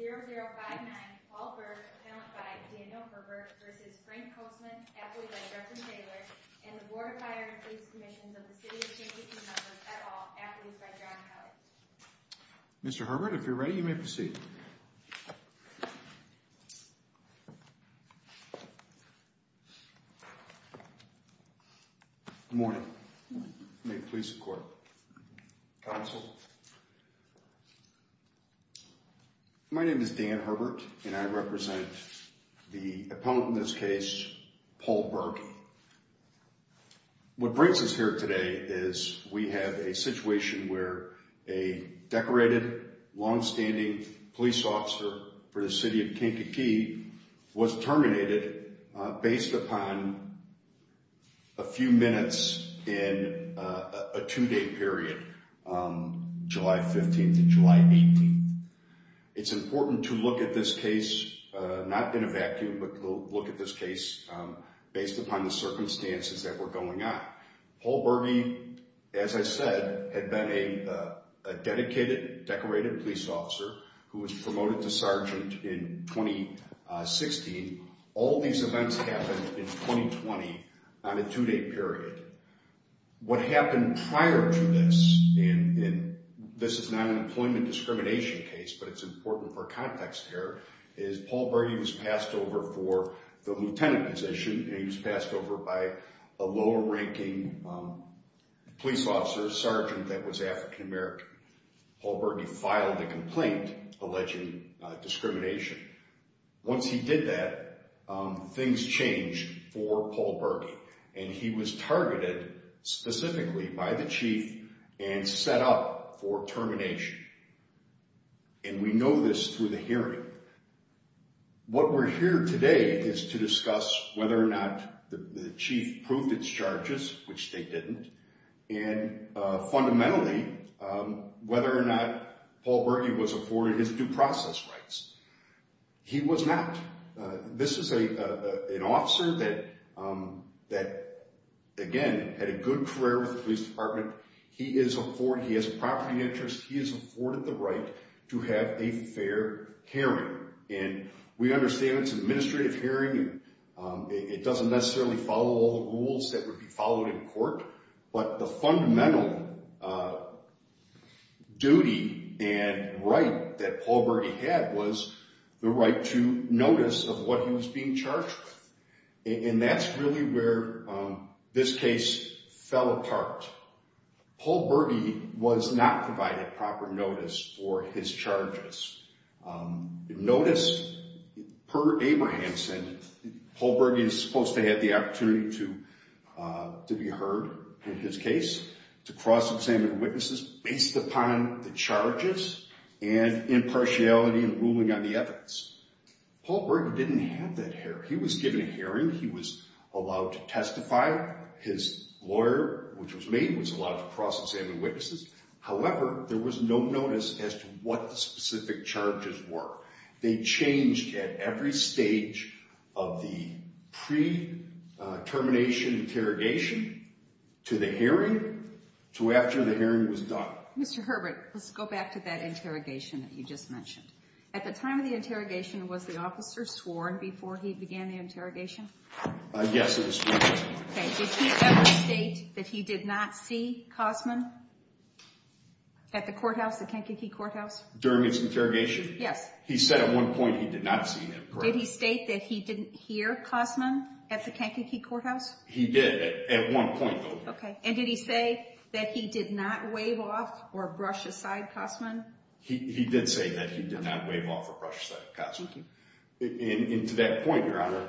322-0059 Paul Berg, appellant by Daniel Herbert, v. Frank Kosman, athlete by Justin Taylor, and the Board of Fire and Police Commissions of the City of Chamberlain, members at all, athletes by John Howard. Mr. Herbert, if you're ready, you may proceed. Good morning. May it please the Court. Counsel. My name is Dan Herbert, and I represent the appellant in this case, Paul Berg. What brings us here today is we have a situation where a decorated, long-standing police officer for the City of Kankakee was terminated based upon a few minutes in a two-day period, July 15th and July 18th. It's important to look at this case, not in a vacuum, but to look at this case based upon the circumstances that were going on. Paul Berg, as I said, had been a dedicated, decorated police officer who was promoted to sergeant in 2016. All these events happened in 2020 on a two-day period. What happened prior to this, and this is not an employment discrimination case, but it's important for context here, is Paul Berg, he was passed over for the lieutenant position, and he was passed over by a lower-ranking police officer, sergeant, that was African-American. Paul Berg filed a complaint alleging discrimination. Once he did that, things changed for Paul Berg, and he was targeted specifically by the chief and set up for termination, and we know this through the hearing. What we're here today is to discuss whether or not the chief proved its charges, which they didn't, and fundamentally whether or not Paul Berg was afforded his due process rights. He was not. This is an officer that, again, had a good career with the police department. He has a property interest. He is afforded the right to have a fair hearing, and we understand it's an administrative hearing. It doesn't necessarily follow all the rules that would be followed in court, but the fundamental duty and right that Paul Berg had was the right to notice of what he was being charged with, and that's really where this case fell apart. Paul Berg was not provided proper notice for his charges. Notice, per Abrahamson, Paul Berg is supposed to have the opportunity to be heard in his case, to cross-examine witnesses based upon the charges and impartiality in ruling on the evidence. Paul Berg didn't have that hearing. He was given a hearing. He was allowed to testify. His lawyer, which was me, was allowed to cross-examine witnesses. However, there was no notice as to what the specific charges were. They changed at every stage of the pre-termination interrogation to the hearing, to after the hearing was done. Mr. Herbert, let's go back to that interrogation that you just mentioned. At the time of the interrogation, was the officer sworn before he began the interrogation? Yes, it was sworn. Okay. Did he ever state that he did not see Cosman at the courthouse, the Kankakee Courthouse? During his interrogation? Yes. He said at one point he did not see him. Did he state that he didn't hear Cosman at the Kankakee Courthouse? He did at one point, though. Okay. And did he say that he did not wave off or brush aside Cosman? He did say that he did not wave off or brush aside Cosman. Okay. And to that point, Your Honor,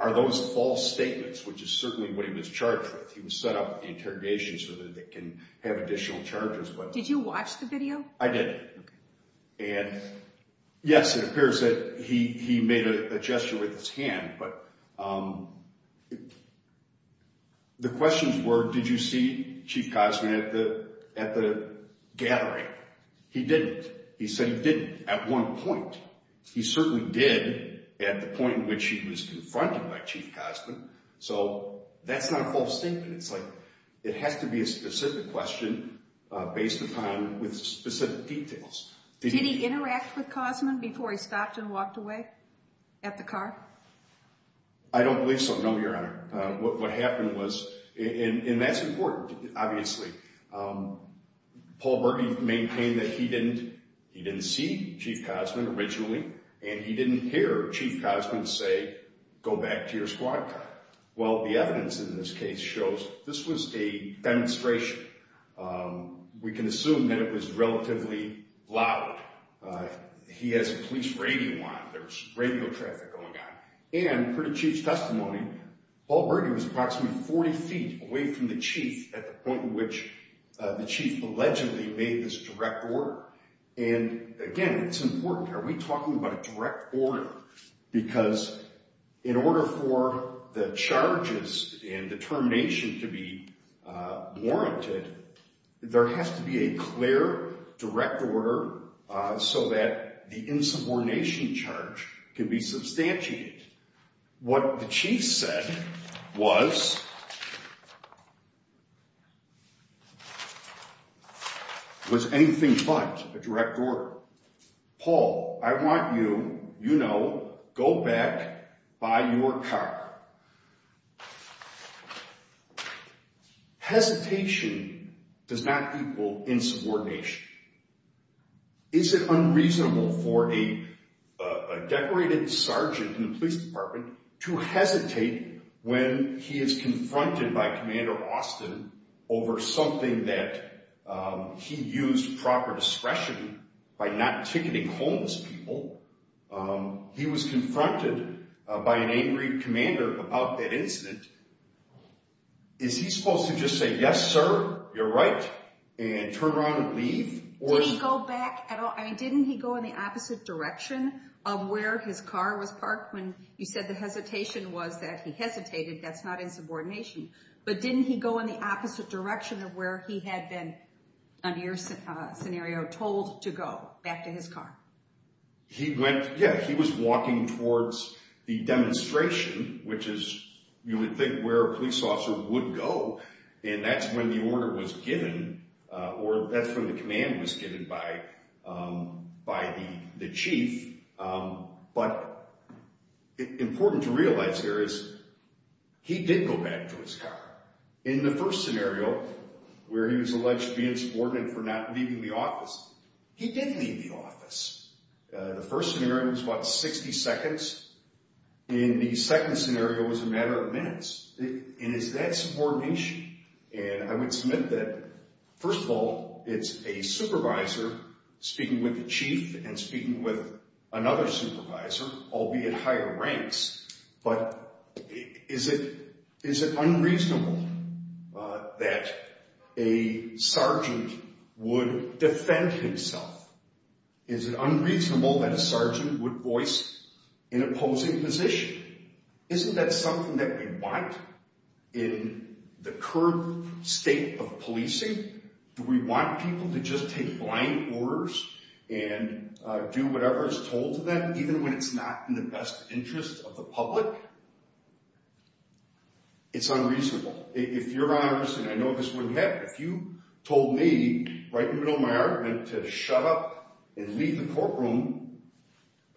are those false statements, which is certainly what he was charged with? He was set up at the interrogation so that they can have additional charges. Did you watch the video? I did. Okay. And, yes, it appears that he made a gesture with his hand. But the questions were, did you see Chief Cosman at the gathering? He didn't. He said he didn't at one point. He certainly did at the point in which he was confronted by Chief Cosman. So that's not a false statement. It's like it has to be a specific question based upon specific details. Did he interact with Cosman before he stopped and walked away at the car? I don't believe so, no, Your Honor. What happened was, and that's important, obviously. Paul Berge maintained that he didn't see Chief Cosman originally, and he didn't hear Chief Cosman say, go back to your squad car. Well, the evidence in this case shows this was a demonstration. We can assume that it was relatively loud. He has a police radio on. There was radio traffic going on. And, per the Chief's testimony, Paul Berge was approximately 40 feet away from the Chief at the point in which the Chief allegedly made this direct order. And, again, it's important. Are we talking about a direct order? Because in order for the charges and determination to be warranted, there has to be a clear direct order so that the insubordination charge can be substantiated. What the Chief said was anything but a direct order. Paul, I want you, you know, go back, buy your car. Hesitation does not equal insubordination. Is it unreasonable for a decorated sergeant in the police department to hesitate when he is confronted by Commander Austin over something that he used proper discretion by not ticketing homeless people? He was confronted by an angry commander about that incident. Is he supposed to just say, yes, sir, you're right, and turn around and leave? Did he go back at all? I mean, didn't he go in the opposite direction of where his car was parked when you said the hesitation was that he hesitated? That's not insubordination. But didn't he go in the opposite direction of where he had been, under your scenario, told to go back to his car? He went, yeah, he was walking towards the demonstration, which is, you would think, where a police officer would go, and that's when the order was given, or that's when the command was given by the Chief. But important to realize here is he did go back to his car. In the first scenario, where he was alleged to be insubordinate for not leaving the office, he did leave the office. The first scenario was about 60 seconds. In the second scenario, it was a matter of minutes. And is that subordination? And I would submit that, first of all, it's a supervisor speaking with the Chief and speaking with another supervisor, albeit higher ranks. But is it unreasonable that a sergeant would defend himself? Is it unreasonable that a sergeant would voice an opposing position? Isn't that something that we want in the current state of policing? Do we want people to just take blind orders and do whatever is told to them, even when it's not in the best interest of the public? It's unreasonable. If Your Honors, and I know this wouldn't happen, if you told me right in the middle of my argument to shut up and leave the courtroom,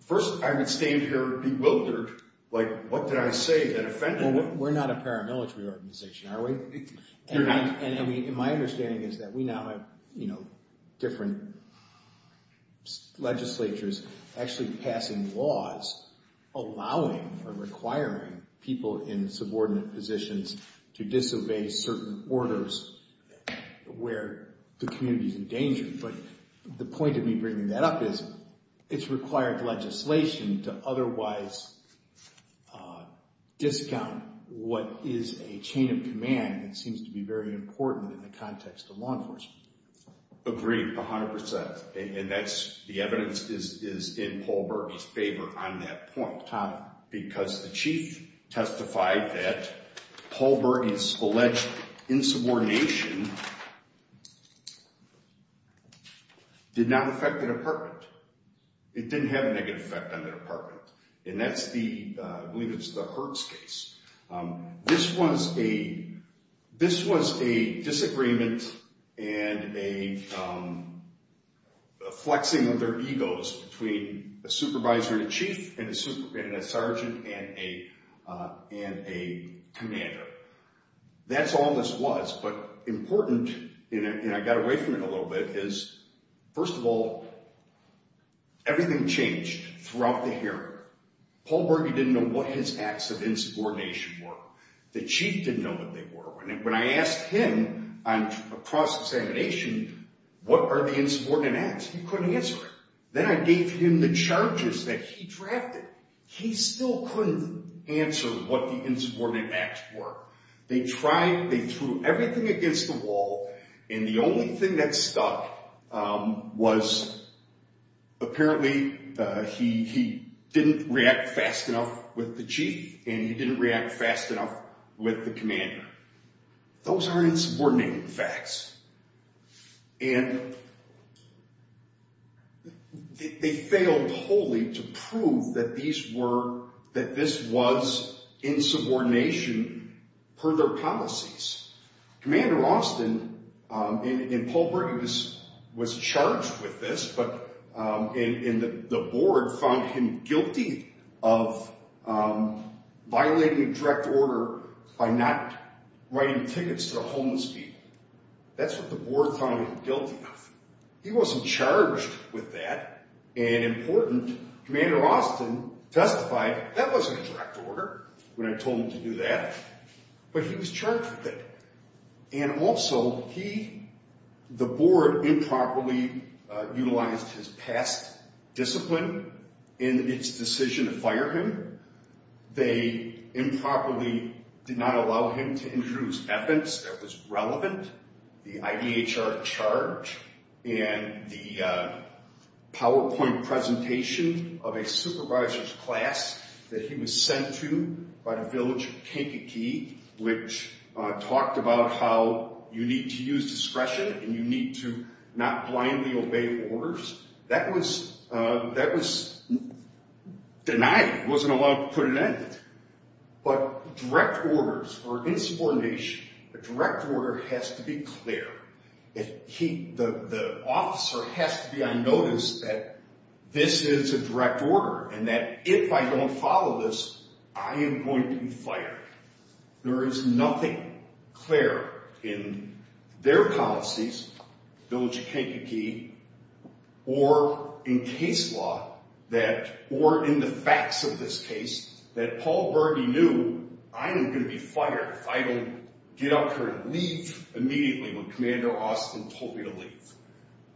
first I would stand here bewildered, like, what did I say that offended you? Well, we're not a paramilitary organization, are we? You're not. And my understanding is that we now have, you know, different legislatures actually passing laws allowing or requiring people in subordinate positions to disobey certain orders where the community is in danger. But the point of me bringing that up is it's required legislation to otherwise discount what is a chain of command that seems to be very important in the context of law enforcement. Agreed, 100%. And that's the evidence is in Paul Berge's favor on that point. How? Because the chief testified that Paul Berge's alleged insubordination did not affect the department. It didn't have a negative effect on the department. And that's the, I believe it's the Hertz case. This was a disagreement and a flexing of their egos between a supervisor and a chief and a sergeant and a commander. That's all this was, but important, and I got away from it a little bit, is first of all, everything changed throughout the hearing. Paul Berge didn't know what his acts of insubordination were. The chief didn't know what they were. When I asked him on cross-examination, what are the insubordinate acts, he couldn't answer it. Then I gave him the charges that he drafted. He still couldn't answer what the insubordinate acts were. They tried, they threw everything against the wall, and the only thing that stuck was apparently he didn't react fast enough with the chief and he didn't react fast enough with the commander. Those aren't insubordinate facts. And they failed wholly to prove that these were, that this was insubordination per their policies. Commander Austin, and Paul Berge was charged with this, but the board found him guilty of violating direct order by not writing tickets to the homeless people. That's what the board found him guilty of. He wasn't charged with that, and important, Commander Austin testified that wasn't a direct order when I told him to do that, but he was charged with it. And also he, the board, improperly utilized his past discipline in its decision to fire him. They improperly did not allow him to introduce evidence that was relevant. The IDHR charge and the PowerPoint presentation of a supervisor's class that he was sent to by the village of Kankakee, which talked about how you need to use discretion and you need to not blindly obey orders, that was denied. He wasn't allowed to put an end to it. But direct orders are insubordination. A direct order has to be clear. The officer has to be on notice that this is a direct order and that if I don't follow this, I am going to be fired. There is nothing clear in their policies, village of Kankakee, or in case law, or in the facts of this case, that Paul Berge knew I am going to be fired if I don't get up here and leave immediately when Commander Austin told me to leave.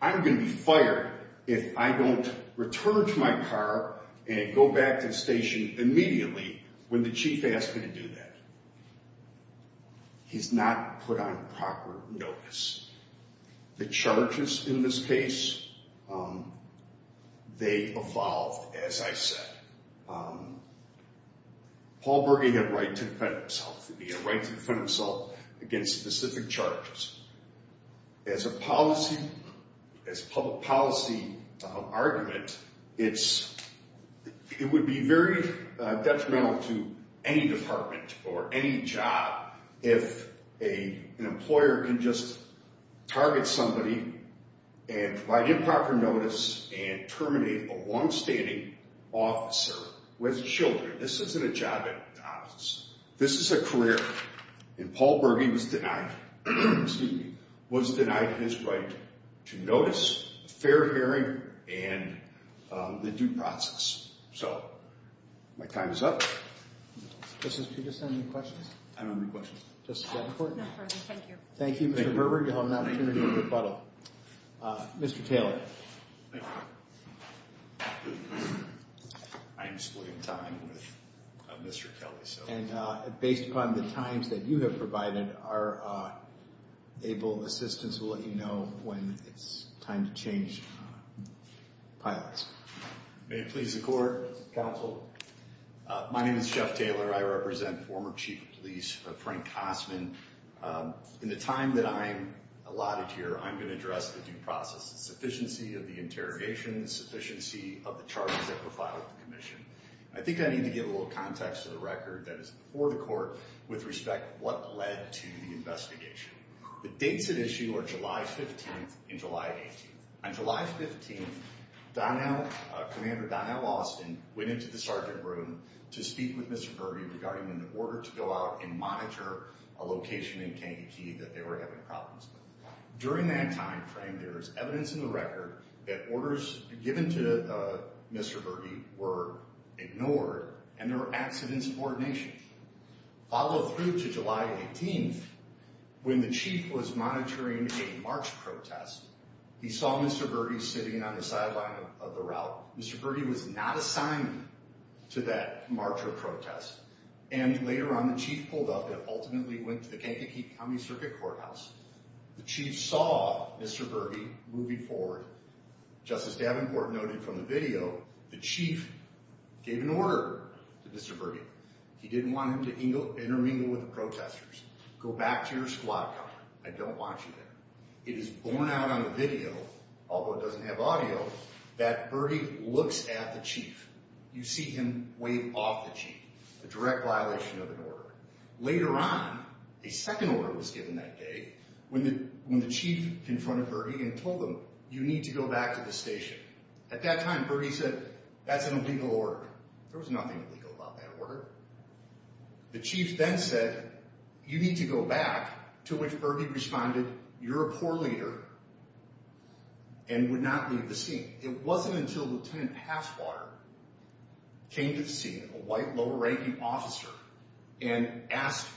I'm going to be fired if I don't return to my car and go back to the station immediately when the chief asked me to do that. He's not put on proper notice. The charges in this case, they evolved, as I said. Paul Berge had a right to defend himself. He had a right to defend himself against specific charges. As a public policy argument, it would be very detrimental to any department or any job if an employer can just target somebody and provide improper notice and terminate a longstanding officer who has children. This isn't a job at the office. This is a career. And Paul Berge was denied his right to notice, a fair hearing, and the due process. So my time is up. Mr. Peterson, any questions? I don't have any questions. Just to get in court? No further. Thank you. Thank you, Mr. Berge, on that opportunity to rebuttal. Mr. Taylor. Thank you. I am splitting time with Mr. Kelly. And based upon the times that you have provided, our able assistance will let you know when it's time to change pilots. May it please the Court, Counsel. My name is Jeff Taylor. I represent former Chief of Police Frank Kosman. In the time that I'm allotted here, I'm going to address the due process, the sufficiency of the interrogation, the sufficiency of the charges that were filed with the Commission. I think I need to give a little context to the record that is before the Court with respect to what led to the investigation. The dates at issue are July 15th and July 18th. On July 15th, Commander Donnell Austin went into the sergeant room to speak with Mr. Berge regarding an order to go out and monitor a location in Kankakee that they were having problems with. During that time frame, there is evidence in the record that orders given to Mr. Berge were ignored and there were accidents of ordination. Followed through to July 18th, when the Chief was monitoring a march protest, he saw Mr. Berge sitting on the sideline of the route. Mr. Berge was not assigned to that march or protest. And later on, the Chief pulled up and ultimately went to the Kankakee County Circuit Courthouse. The Chief saw Mr. Berge moving forward. Justice Davenport noted from the video, the Chief gave an order to Mr. Berge. He didn't want him to intermingle with the protesters. Go back to your squad car. I don't want you there. It is borne out on the video, although it doesn't have audio, that Berge looks at the Chief. You see him wave off the Chief, a direct violation of an order. Later on, a second order was given that day, when the Chief confronted Berge and told him, you need to go back to the station. At that time, Berge said, that's an illegal order. There was nothing illegal about that order. The Chief then said, you need to go back, to which Berge responded, you're a poor leader and would not leave the scene. It wasn't until Lieutenant Halfwater came to the scene, a white, lower-ranking officer, and asked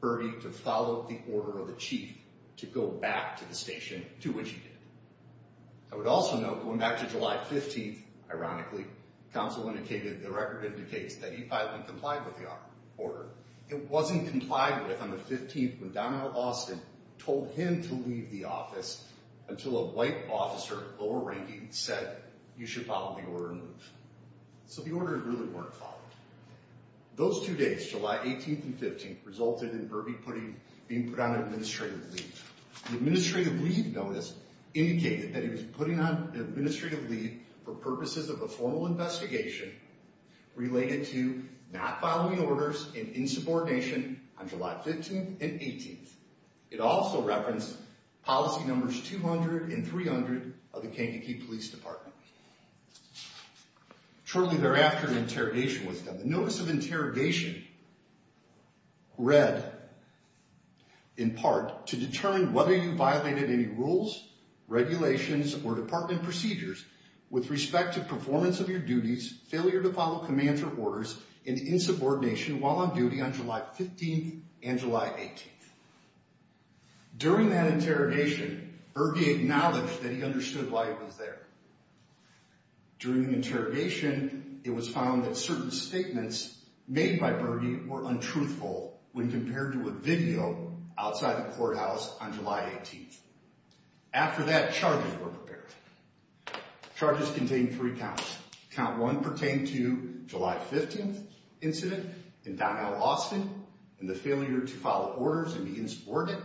Berge to follow the order of the Chief, to go back to the station, to which he did. I would also note, going back to July 15th, ironically, counsel indicated, the record indicates, that he filed and complied with the order. It wasn't complied with on the 15th, when Donald Austin told him to leave the office, until a white officer, lower-ranking, said, you should follow the order and leave. So the order really weren't followed. Those two days, July 18th and 15th, resulted in Berge being put on administrative leave. The administrative leave notice, indicated that he was putting on administrative leave, for purposes of a formal investigation, related to not following orders and insubordination, on July 15th and 18th. It also referenced policy numbers 200 and 300, of the Kentucky Police Department. Shortly thereafter, an interrogation was done. The notice of interrogation, read, in part, to determine whether you violated any rules, regulations, or department procedures, with respect to performance of your duties, failure to follow commands or orders, and insubordination, while on duty, on July 15th and July 18th. During that interrogation, Berge acknowledged, that he understood why he was there. During the interrogation, it was found that certain statements, made by Berge, were untruthful, when compared to a video, outside the courthouse, on July 18th. After that, charges were prepared. Charges contained three counts. Count one pertained to July 15th incident, in Donnell, Austin, and the failure to follow orders and insubordination.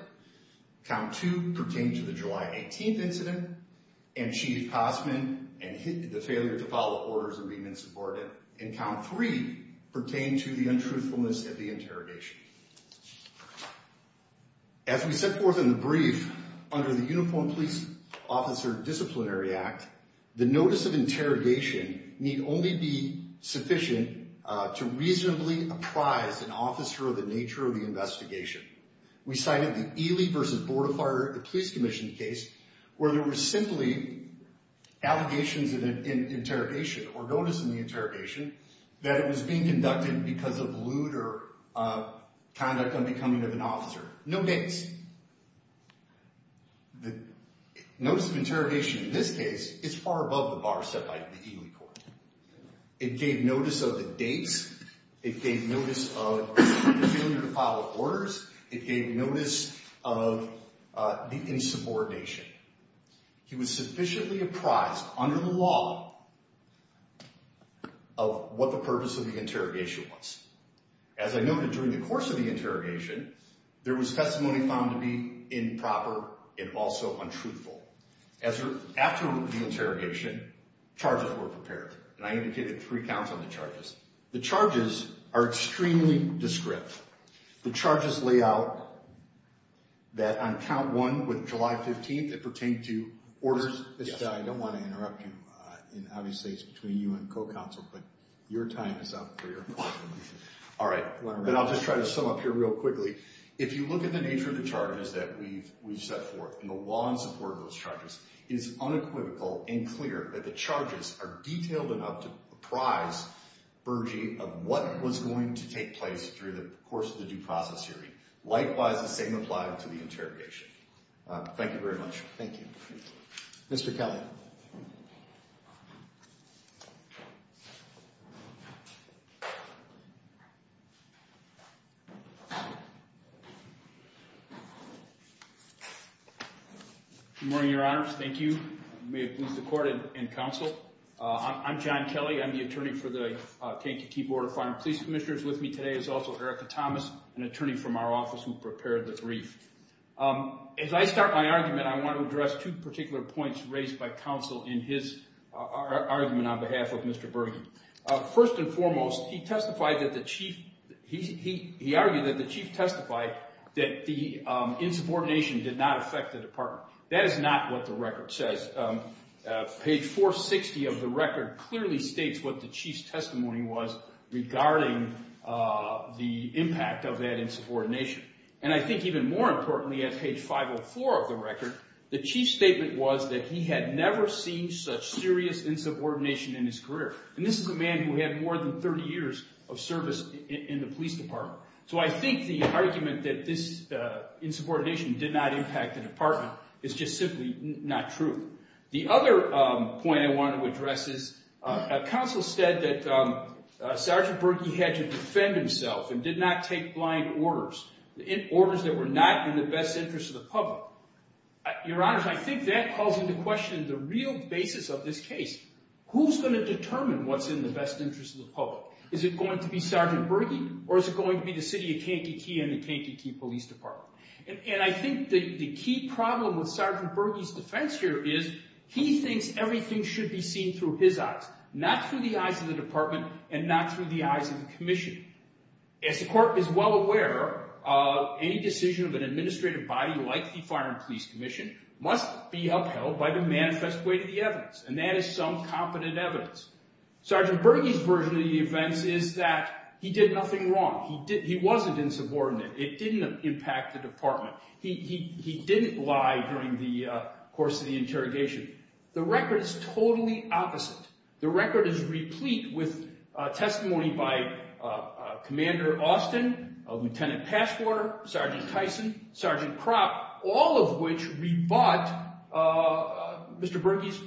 Count two pertained to the July 18th incident, and Chief Cosman, and the failure to follow orders and insubordination. And count three pertained to the untruthfulness of the interrogation. As we set forth in the brief, under the Uniformed Police Officer Disciplinary Act, the notice of interrogation need only be sufficient, to reasonably apprise an officer of the nature of the investigation. We cited the Ely v. Board of Fire, the police commission case, where there were simply allegations of an interrogation, or notice of an interrogation, that it was being conducted because of lewd or conduct unbecoming of an officer. No dates. The notice of interrogation in this case is far above the bar set by the Ely court. It gave notice of the dates, it gave notice of the failure to follow orders, it gave notice of the insubordination. He was sufficiently apprised, under the law, of what the purpose of the interrogation was. As I noted during the course of the interrogation, there was testimony found to be improper, and also untruthful. After the interrogation, charges were prepared. And I indicated three counts on the charges. The charges are extremely discreet. The charges lay out that, on count one, with July 15th, it pertained to orders... I don't want to interrupt you. Obviously, it's between you and co-counsel, but your time is up. All right. I'll just try to sum up here real quickly. If you look at the nature of the charges that we've set forth, and the law in support of those charges, it is unequivocal and clear that the charges are detailed enough to apprise Bergey of what was going to take place through the course of the due process hearing. Likewise, the same applies to the interrogation. Thank you very much. Thank you. Mr. Kelly. Good morning, Your Honors. Thank you. May it please the Court and counsel. I'm John Kelly. I'm the attorney for the Kankatee Board of Fire and Police Commissioners. With me today is also Erica Thomas, an attorney from our office who prepared the brief. As I start my argument, I want to address two particular points raised by counsel in his argument on behalf of Mr. Bergey. First and foremost, he argued that the chief testified that the insubordination did not affect the department. That is not what the record says. Page 460 of the record clearly states what the chief's testimony was, regarding the impact of that insubordination. And I think even more importantly, at page 504 of the record, the chief's statement was that he had never seen such serious insubordination in his career. And this is a man who had more than 30 years of service in the police department. So I think the argument that this insubordination did not impact the department is just simply not true. The other point I wanted to address is counsel said that Sergeant Bergey had to defend himself and did not take blind orders, orders that were not in the best interest of the public. Your Honors, I think that calls into question the real basis of this case. Who's going to determine what's in the best interest of the public? Is it going to be Sergeant Bergey, or is it going to be the city of Kankakee and the Kankakee Police Department? And I think the key problem with Sergeant Bergey's defense here is he thinks everything should be seen through his eyes, not through the eyes of the department and not through the eyes of the commission. As the court is well aware, any decision of an administrative body like the Fire and Police Commission must be upheld by the manifest way to the evidence, and that is some competent evidence. Sergeant Bergey's version of the events is that he did nothing wrong. He wasn't insubordinate. It didn't impact the department. He didn't lie during the course of the interrogation. The record is totally opposite. The record is replete with testimony by Commander Austin, Lieutenant Passwater, Sergeant Tyson, Sergeant Kropp, all of which rebut Mr. Bergey's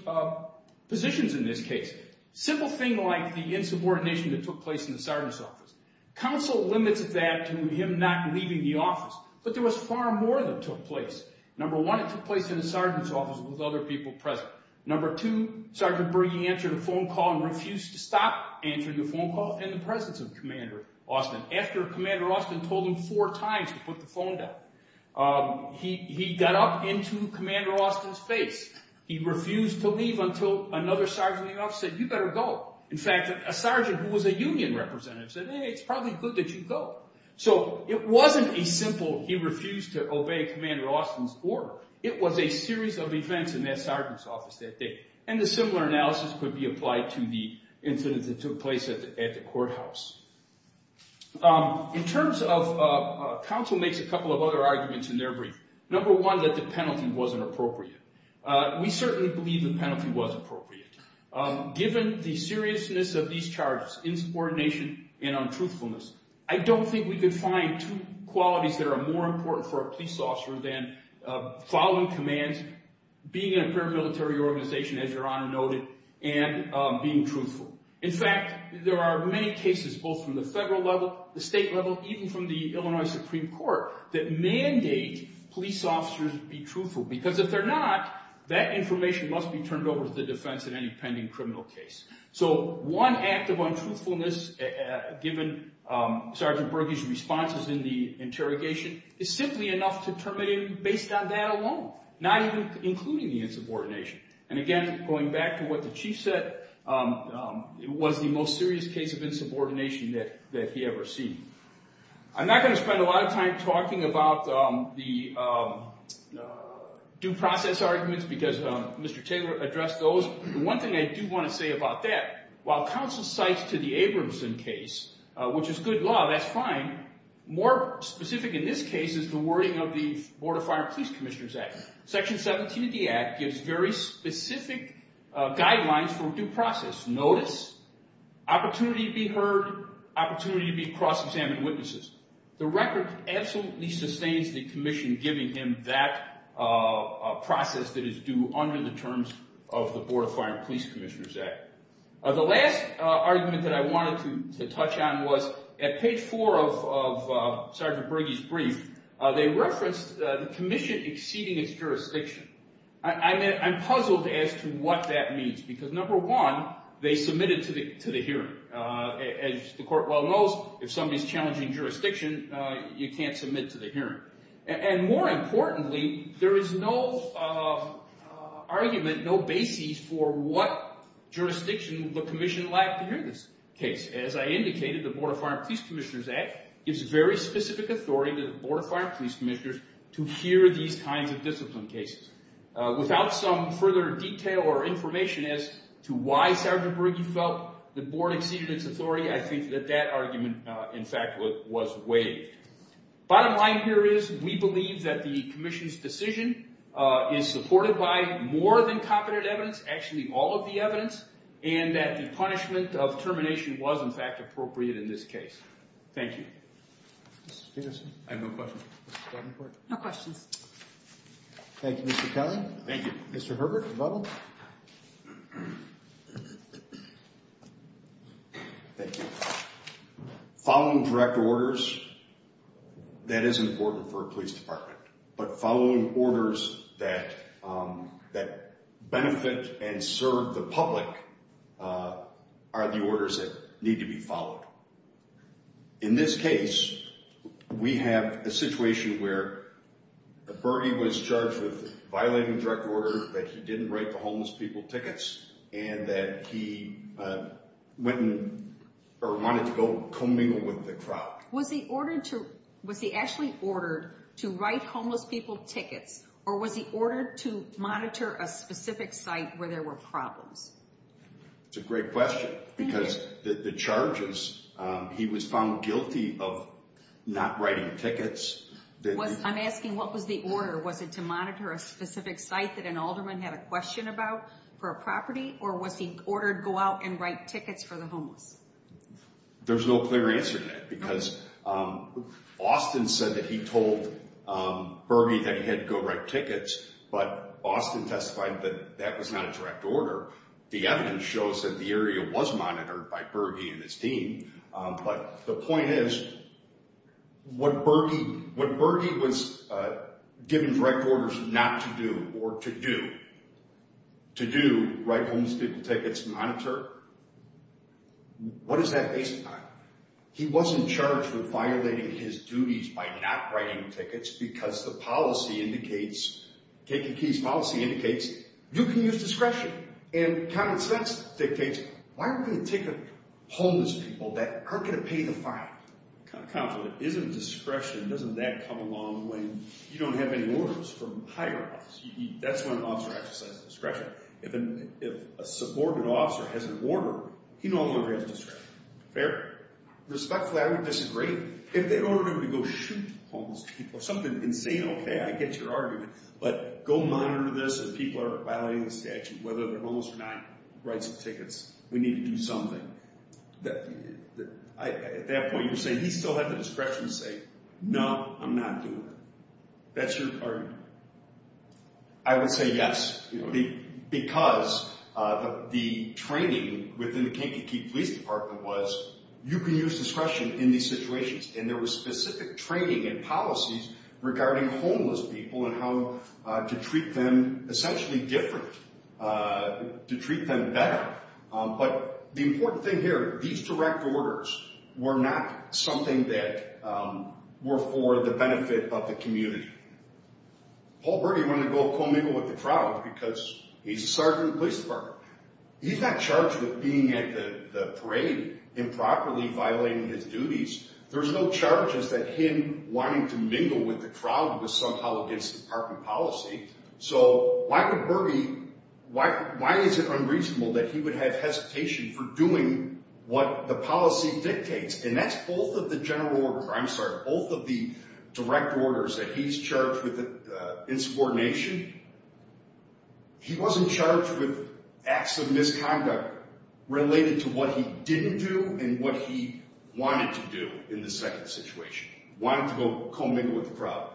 positions in this case. Simple thing like the insubordination that took place in the sergeant's office. Counsel limited that to him not leaving the office, but there was far more that took place. Number one, it took place in the sergeant's office with other people present. Number two, Sergeant Bergey answered a phone call and refused to stop answering the phone call in the presence of Commander Austin after Commander Austin told him four times to put the phone down. He got up into Commander Austin's face. He refused to leave until another sergeant in the office said, you better go. In fact, a sergeant who was a union representative said, hey, it's probably good that you go. So it wasn't a simple he refused to obey Commander Austin's order. It was a series of events in that sergeant's office that day. And a similar analysis could be applied to the incident that took place at the courthouse. In terms of counsel makes a couple of other arguments in their brief. Number one, that the penalty wasn't appropriate. We certainly believe the penalty was appropriate. Given the seriousness of these charges, insubordination and untruthfulness, I don't think we could find two qualities that are more important for a police officer than following commands, being in a paramilitary organization, as Your Honor noted, and being truthful. In fact, there are many cases, both from the federal level, the state level, even from the Illinois Supreme Court, that mandate police officers be truthful. Because if they're not, that information must be turned over to the defense in any pending criminal case. So one act of untruthfulness, given Sergeant Berge's responses in the interrogation, is simply enough to terminate him based on that alone, not even including the insubordination. And again, going back to what the chief said, it was the most serious case of insubordination that he ever seen. I'm not going to spend a lot of time talking about the due process arguments, because Mr. Taylor addressed those. The one thing I do want to say about that, while counsel cites to the Abramson case, which is good law, that's fine. More specific in this case is the wording of the Board of Fire and Police Commissioners Act. Section 17 of the Act gives very specific guidelines for due process. Notice, opportunity to be heard, opportunity to be cross-examined witnesses. The record absolutely sustains the commission giving him that process that is due under the terms of the Board of Fire and Police Commissioners Act. The last argument that I wanted to touch on was at page four of Sergeant Berge's brief, they referenced the commission exceeding its jurisdiction. I'm puzzled as to what that means, because number one, they submitted to the hearing. As the court well knows, if somebody is challenging jurisdiction, you can't submit to the hearing. And more importantly, there is no argument, no basis for what jurisdiction the commission lacked to hear this case. As I indicated, the Board of Fire and Police Commissioners Act gives very specific authority to the Board of Fire and Police Commissioners to hear these kinds of discipline cases. Without some further detail or information as to why Sergeant Berge felt the board exceeded its authority, I think that that argument, in fact, was waived. Bottom line here is, we believe that the commission's decision is supported by more than competent evidence, actually all of the evidence, and that the punishment of termination was, in fact, appropriate in this case. Thank you. Mr. Stevenson? I have no questions. Mr. Davenport? No questions. Thank you, Mr. Kelly. Thank you. Mr. Herbert of Bubble? Thank you. Following direct orders, that is important for a police department. But following orders that benefit and serve the public are the orders that need to be followed. In this case, we have a situation where Berge was charged with violating direct order, that he didn't write the homeless people tickets, and that he wanted to go commingle with the crowd. Was he actually ordered to write homeless people tickets, or was he ordered to monitor a specific site where there were problems? That's a great question, because the charges, he was found guilty of not writing tickets. I'm asking, what was the order? Was it to monitor a specific site that an alderman had a question about for a property, or was he ordered go out and write tickets for the homeless? There's no clear answer to that, because Austin said that he told Berge that he had to go write tickets, but Austin testified that that was not a direct order. The evidence shows that the area was monitored by Berge and his team. But the point is, when Berge was given direct orders not to do or to do, to do, write homeless people tickets, monitor, what is that based upon? He wasn't charged with violating his duties by not writing tickets because the policy indicates, Kiki Key's policy indicates, you can use discretion, and common sense dictates, why are we going to ticket homeless people that aren't going to pay the fine? Counselor, isn't discretion, doesn't that come along when you don't have any orders from higher office? That's when an officer exercises discretion. If a subordinate officer has an order, he no longer has discretion. Fair? Respectfully, I would disagree. If they ordered him to go shoot homeless people or something insane, okay, I get your argument. But go monitor this if people are violating the statute, whether they're homeless or not, write some tickets. We need to do something. At that point, you're saying he still had the discretion to say, no, I'm not doing it. That's your argument? I would say yes. Because the training within the Kiki Key Police Department was, you can use discretion in these situations, and there was specific training and policies regarding homeless people and how to treat them essentially differently, to treat them better. But the important thing here, these direct orders were not something that were for the benefit of the community. Paul Berge wanted to go commingle with the crowd because he's a sergeant in the police department. He's not charged with being at the parade improperly violating his duties. There's no charges that him wanting to mingle with the crowd was somehow against the department policy. So why is it unreasonable that he would have hesitation for doing what the policy dictates? And that's both of the direct orders that he's charged with insubordination. He wasn't charged with acts of misconduct related to what he didn't do and what he wanted to do in the second situation, wanted to go commingle with the crowd.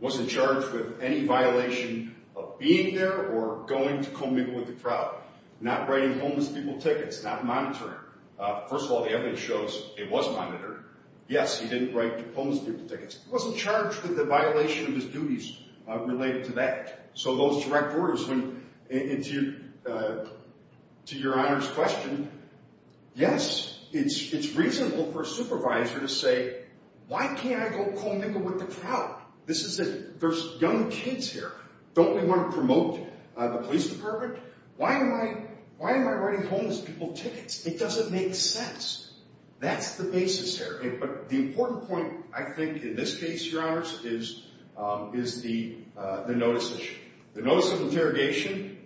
Wasn't charged with any violation of being there or going to commingle with the crowd, not writing homeless people tickets, not monitoring. First of all, the evidence shows it was monitored. Yes, he didn't write homeless people tickets. He wasn't charged with the violation of his duties related to that. So those direct orders, to Your Honor's question, yes, it's reasonable for a supervisor to say, why can't I go commingle with the crowd? There's young kids here. Don't we want to promote the police department? Why am I writing homeless people tickets? It doesn't make sense. That's the basis here. But the important point, I think, in this case, Your Honors, is the notice issue. The notice of interrogation,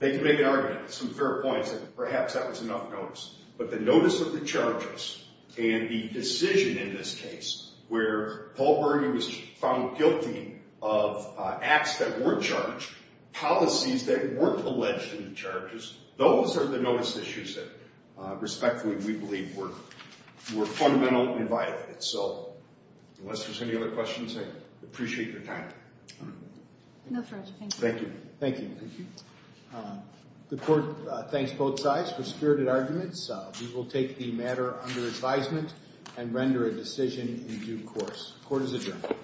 they can make an argument, some fair points, that perhaps that was enough notice. But the notice of the charges and the decision in this case where Paul Berger was found guilty of acts that weren't charged, policies that weren't alleged in the charges, those are the notice issues that, respectfully, we believe were fundamental and violated. So unless there's any other questions, I appreciate your time. No further questions. Thank you. Thank you. The court thanks both sides for spirited arguments. We will take the matter under advisement and render a decision in due course. Court is adjourned.